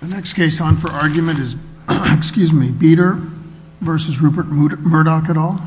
The next case on for argument is Beter v. Rupert Murdoch et al.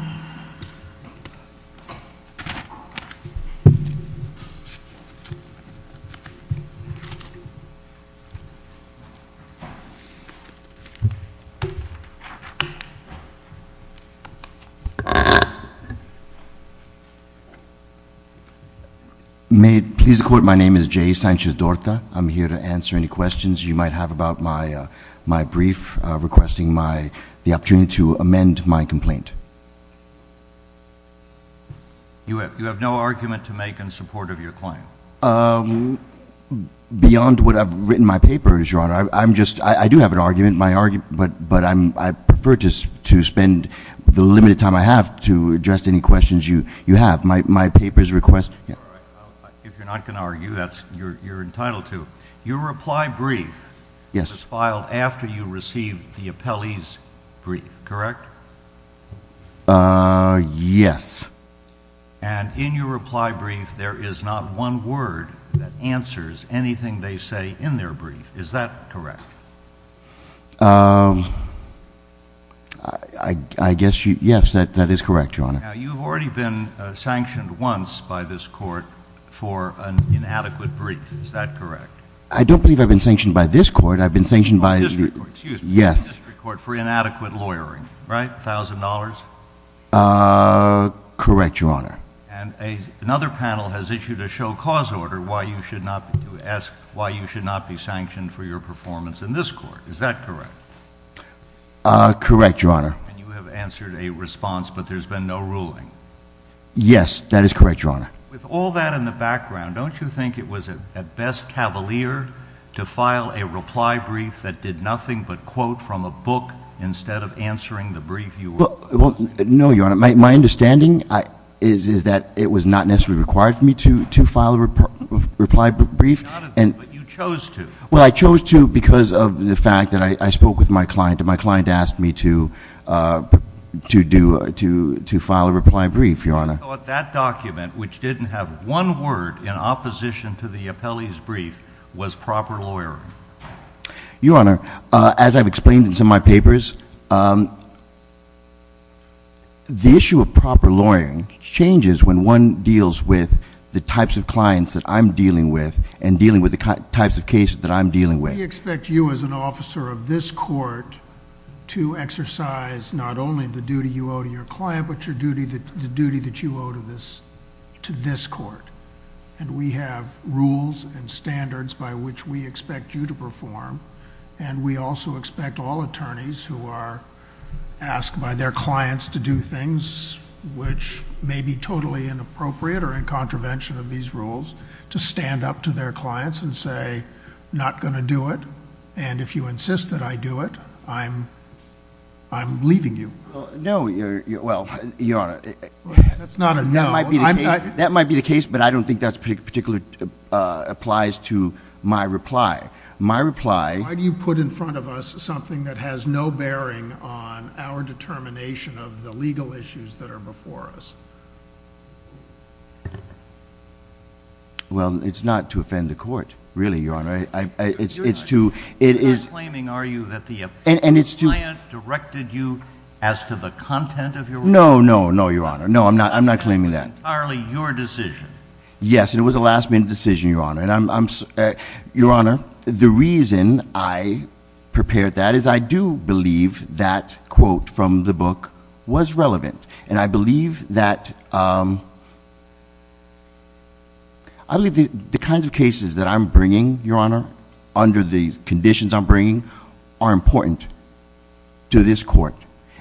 May it please the Court, my name is J. Sanchez-Dorta. I'm here to answer any questions you might have about my brief, requesting the opportunity to amend my complaint. You have no argument to make in support of your claim? Beyond what I've written in my papers, Your Honor. I do have an argument, but I prefer to spend the limited time I have to address any questions you have. My papers request If you're not going to argue, you're entitled to. Your reply brief was filed after you received the appellee's brief, correct? Yes. And in your reply brief, there is not one word that answers anything they say in their brief, is that correct? Now, you've already been sanctioned once by this Court for an inadequate brief, is that correct? I don't believe I've been sanctioned by this Court. I've been sanctioned by the District Court for inadequate lawyering, right? A thousand dollars? Correct, Your Honor. And another panel has issued a show cause order to ask why you should not be sanctioned for your performance in this Court, is that correct? Correct, Your Honor. And you have answered a response, but there's been no ruling? Yes, that is correct, Your Honor. With all that in the background, don't you think it was at best cavalier to file a reply brief that did nothing but quote from a book instead of answering the brief you were asked to? No, Your Honor. My understanding is that it was not necessarily required for me to file a reply brief. You chose to. Well, I chose to because of the fact that I spoke with my client, and my client asked me to file a reply brief, Your Honor. I thought that document, which didn't have one word in opposition to the appellee's brief, was proper lawyering. Your Honor, as I've explained in some of my papers, the issue of proper lawyering changes when one deals with the types of clients that I'm dealing with and dealing with the types of cases that I'm dealing with. We expect you as an officer of this court to exercise not only the duty you owe to your client, but the duty that you owe to this court. We have rules and standards by which we expect you to perform, and we also expect all attorneys who are asked by their clients to do things which may be totally inappropriate or in contravention of these rules to stand up to their clients and say, not going to do it, and if you insist that I do it, I'm leaving you. No, Your Honor. That's not a no. That might be the case, but I don't think that particularly applies to my reply. My reply... Why do you put in front of us something that has no bearing on our determination of the legal issues that are before us? Well, it's not to offend the court, really, Your Honor. It's to... You're not claiming, are you, that the client directed you as to the content of your reply? No, no, no, Your Honor. No, I'm not claiming that. That was entirely your decision. Yes, and it was a last-minute decision, Your Honor. Your Honor, the reason I prepared that is I do believe that quote from the book was that... I believe the kinds of cases that I'm bringing, Your Honor, under the conditions I'm bringing, are important to this court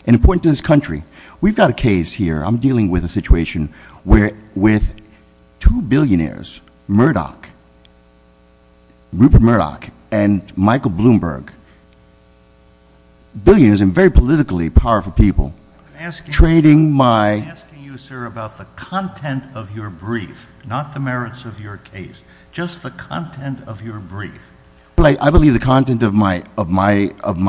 and important to this country. We've got a case here. I'm dealing with a situation where with two billionaires, Murdoch, Rupert Murdoch and Michael Bloomberg, billionaires and very politically powerful people, trading my... You're talking here about the content of your brief, not the merits of your case, just the content of your brief. I believe the content of my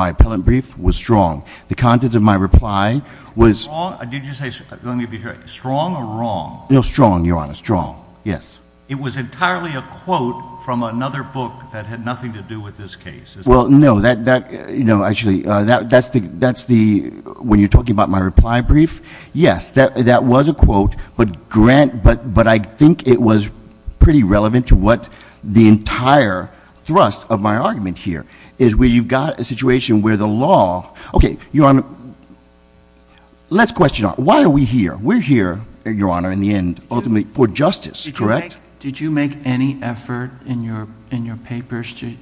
appellant brief was strong. The content of my reply was... Strong? Did you say... let me be clear. Strong or wrong? No, strong, Your Honor, strong, yes. It was entirely a quote from another book that had nothing to do with this case, is that right? Well, no. That... no, actually, that's the... when you're talking about my reply brief, yes, that was a quote, but I think it was pretty relevant to what the entire thrust of my argument here is, where you've got a situation where the law... okay, Your Honor, let's question it. Why are we here? We're here, Your Honor, in the end, ultimately, for justice, correct? Did you make any effort in your papers to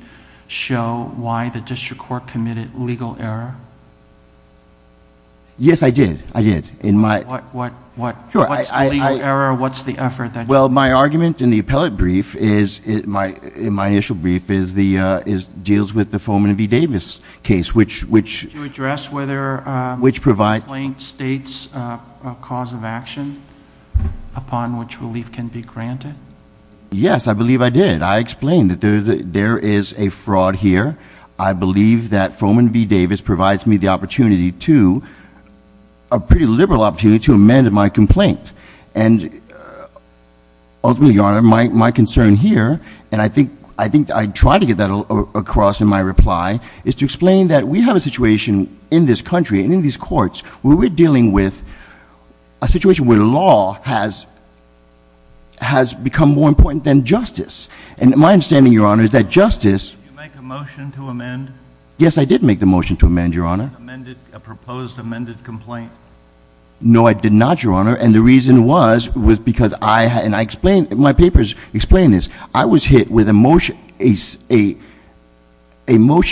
show why the district court committed legal error? Yes, I did, I did. In my... What's the legal error? What's the effort that... Well, my argument in the appellate brief is... in my initial brief is the... deals with the Foman v. Davis case, which... Did you address whether... Which provides...... complaint states a cause of action upon which relief can be granted? Yes, I believe I did. I explained that there is a fraud here. I believe that Foman v. Davis provides me the opportunity to... a pretty liberal opportunity to amend my complaint. And ultimately, Your Honor, my concern here, and I think I tried to get that across in my reply, is to explain that we have a situation in this country and in these courts where we're dealing with a situation where law has become more important than justice. And my understanding, Your Honor, is that justice... Did you make the motion to amend? Yes, I did make the motion to amend, Your Honor. Did you make a proposed amended complaint? No, I did not, Your Honor. And the reason was because I had... and I explained... my papers explain this. I was hit with a motion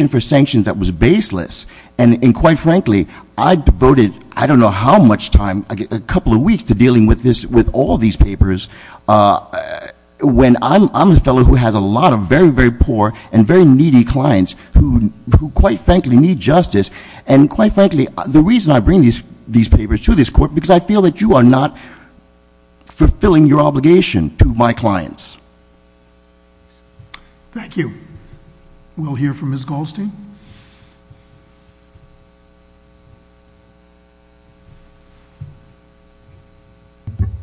for sanctions that was baseless. And quite frankly, I devoted I don't know how much time, a couple of weeks, to dealing with this... with all these papers when I'm a fellow who has a lot of very, very poor and very needy clients who, quite frankly, need justice. And quite frankly, the reason I bring these papers to this court is because I feel that you are not fulfilling your obligation to my clients. Thank you. We'll hear from Ms. Goldstein.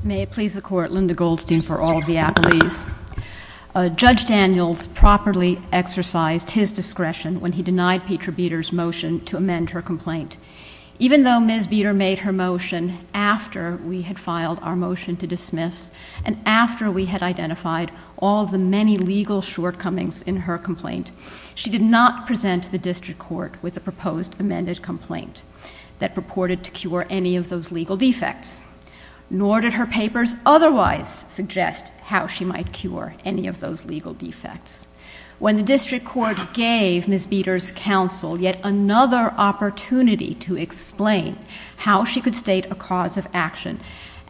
May it please the Court. Linda Goldstein for all of the attorneys. Judge Daniels properly exercised his discretion when he denied Petra Beter's motion to amend her complaint. Even though Ms. Beter made her motion after we had filed our motion to dismiss and after we had identified all the many legal shortcomings in her complaint, she did not present the district court with a proposed amended complaint that purported to cure any of those legal defects. Nor did her papers otherwise suggest how she might cure any of those legal defects. When the district court gave Ms. Beter's counsel yet another opportunity to explain how she could state a cause of action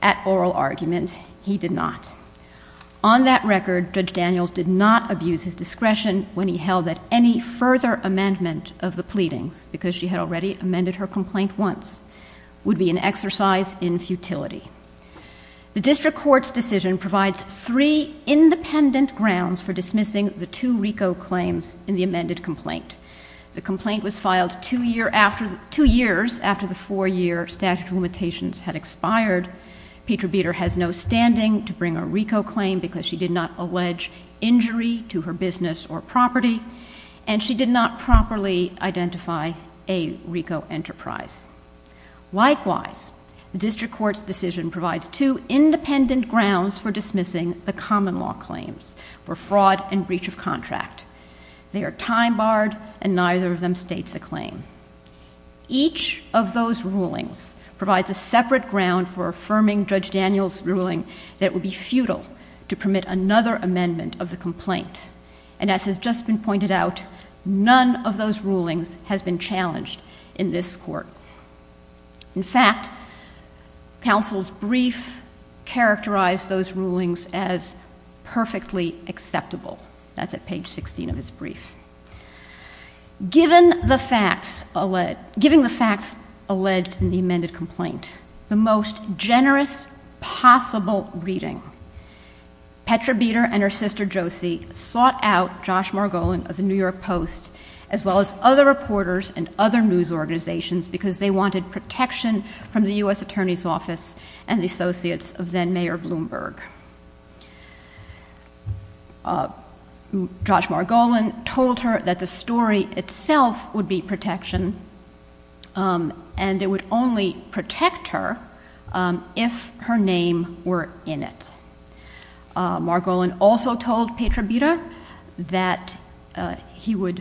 at oral argument, he did not. On that record, Judge Daniels did not abuse his discretion when he held that any further amendment of the pleadings, because she had already amended her complaint once, would be an exercise in futility. The district court's decision provides three independent grounds for dismissing the two RICO claims in the amended complaint. The complaint was filed two years after the four-year statute of limitations had expired. Petra Beter has no standing to bring a RICO claim because she did not allege injury to her business or property, and she did not properly identify a RICO enterprise. Likewise, the district court's decision provides two independent grounds for dismissing the common law claims for fraud and breach of contract. They are time barred, and neither of them states a claim. Each of those rulings provides a separate ground for affirming Judge Daniels' ruling that it would be futile to permit another amendment of the complaint. And as has just been pointed out, none of those rulings has been challenged in this court. In fact, counsel's brief characterized those rulings as perfectly acceptable. That's at page 16 of his brief. Given the facts alleged in the amended complaint, the most generous possible reading, Petra Beter sought out Josh Margolin of the New York Post as well as other reporters and other news organizations because they wanted protection from the U.S. Attorney's Office and the associates of then-Mayor Bloomberg. Josh Margolin told her that the story itself would be protection, and it would only protect her if her name were in it. Margolin also told Petra Beter that if he were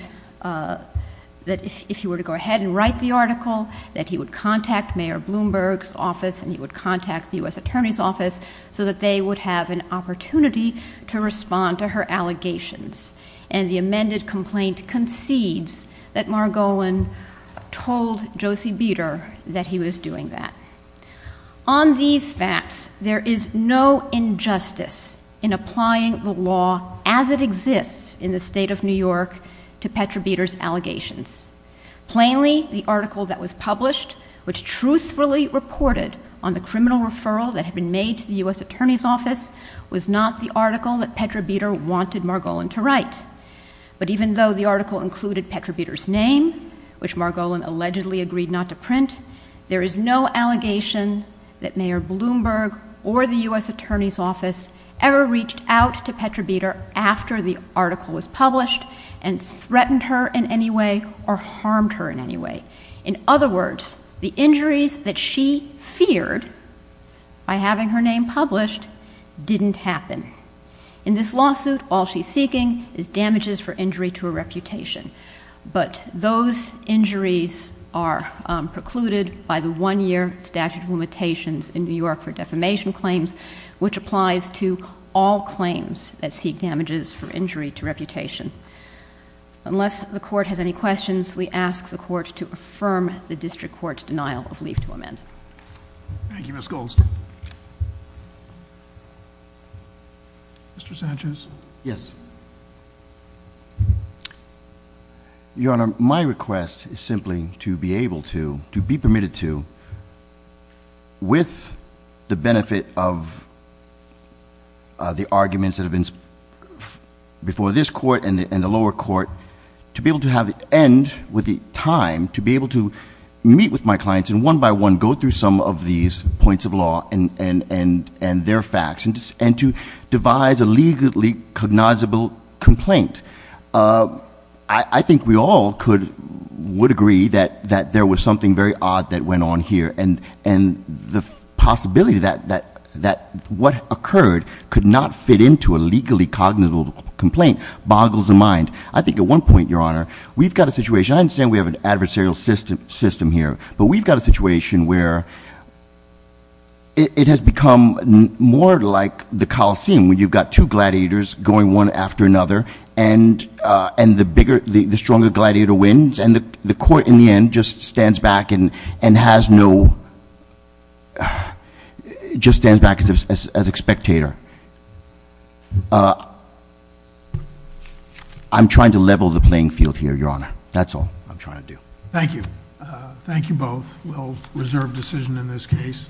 to go ahead and write the article, that he would contact Mayor Bloomberg's office and he would contact the U.S. Attorney's Office so that they would have an opportunity to respond to her allegations. And the amended complaint concedes that Margolin told Josie Beter that he was doing that. On these facts, there is no injustice in applying the law as it exists in the state of New York to Petra Beter's allegations. Plainly, the article that was published, which truthfully reported on the criminal referral that had been made to the U.S. Attorney's Office, was not the article that Petra Beter wanted Margolin to write. But even though the article included Petra Beter's name, which Margolin allegedly agreed not to print, there is no allegation that Mayor Bloomberg or the U.S. Attorney's Office ever reached out to Petra Beter after the article was published and threatened her in any way or harmed her in any way. In other words, the injuries that she feared by having her name published didn't happen. In this lawsuit, all she's seeking is damages for injury to a reputation. But those injuries are precluded by the one-year statute of limitations in New York for defamation claims, which applies to all claims that seek damages for injury to reputation. Unless the court has any questions, we ask the court to affirm the district court's denial of leave to amend. Thank you, Ms. Goldstein. Mr. Sanchez? Yes. Your Honor, my request is simply to be able to, to be permitted to, with the benefit of the arguments that have been before this court and the lower court, to be able to have the end with the time to be able to meet with my clients and one by one go through some of these points of law and their facts, and to devise a legally cognizable complaint. I think we all could, would agree that there was something very odd that went on here and the possibility that what occurred could not fit into a legally cognizable complaint boggles the mind. I think at one point, Your Honor, we've got a situation, I understand we have an adversarial system here, but we've got a situation where it has become more like the Coliseum, where you've got two gladiators going one after another, and the stronger gladiator wins. And the court, in the end, just stands back and has no, just stands back as a spectator. I'm trying to level the playing field here, Your Honor. That's all I'm trying to do. Thank you. Thank you both. We'll reserve decision in this case.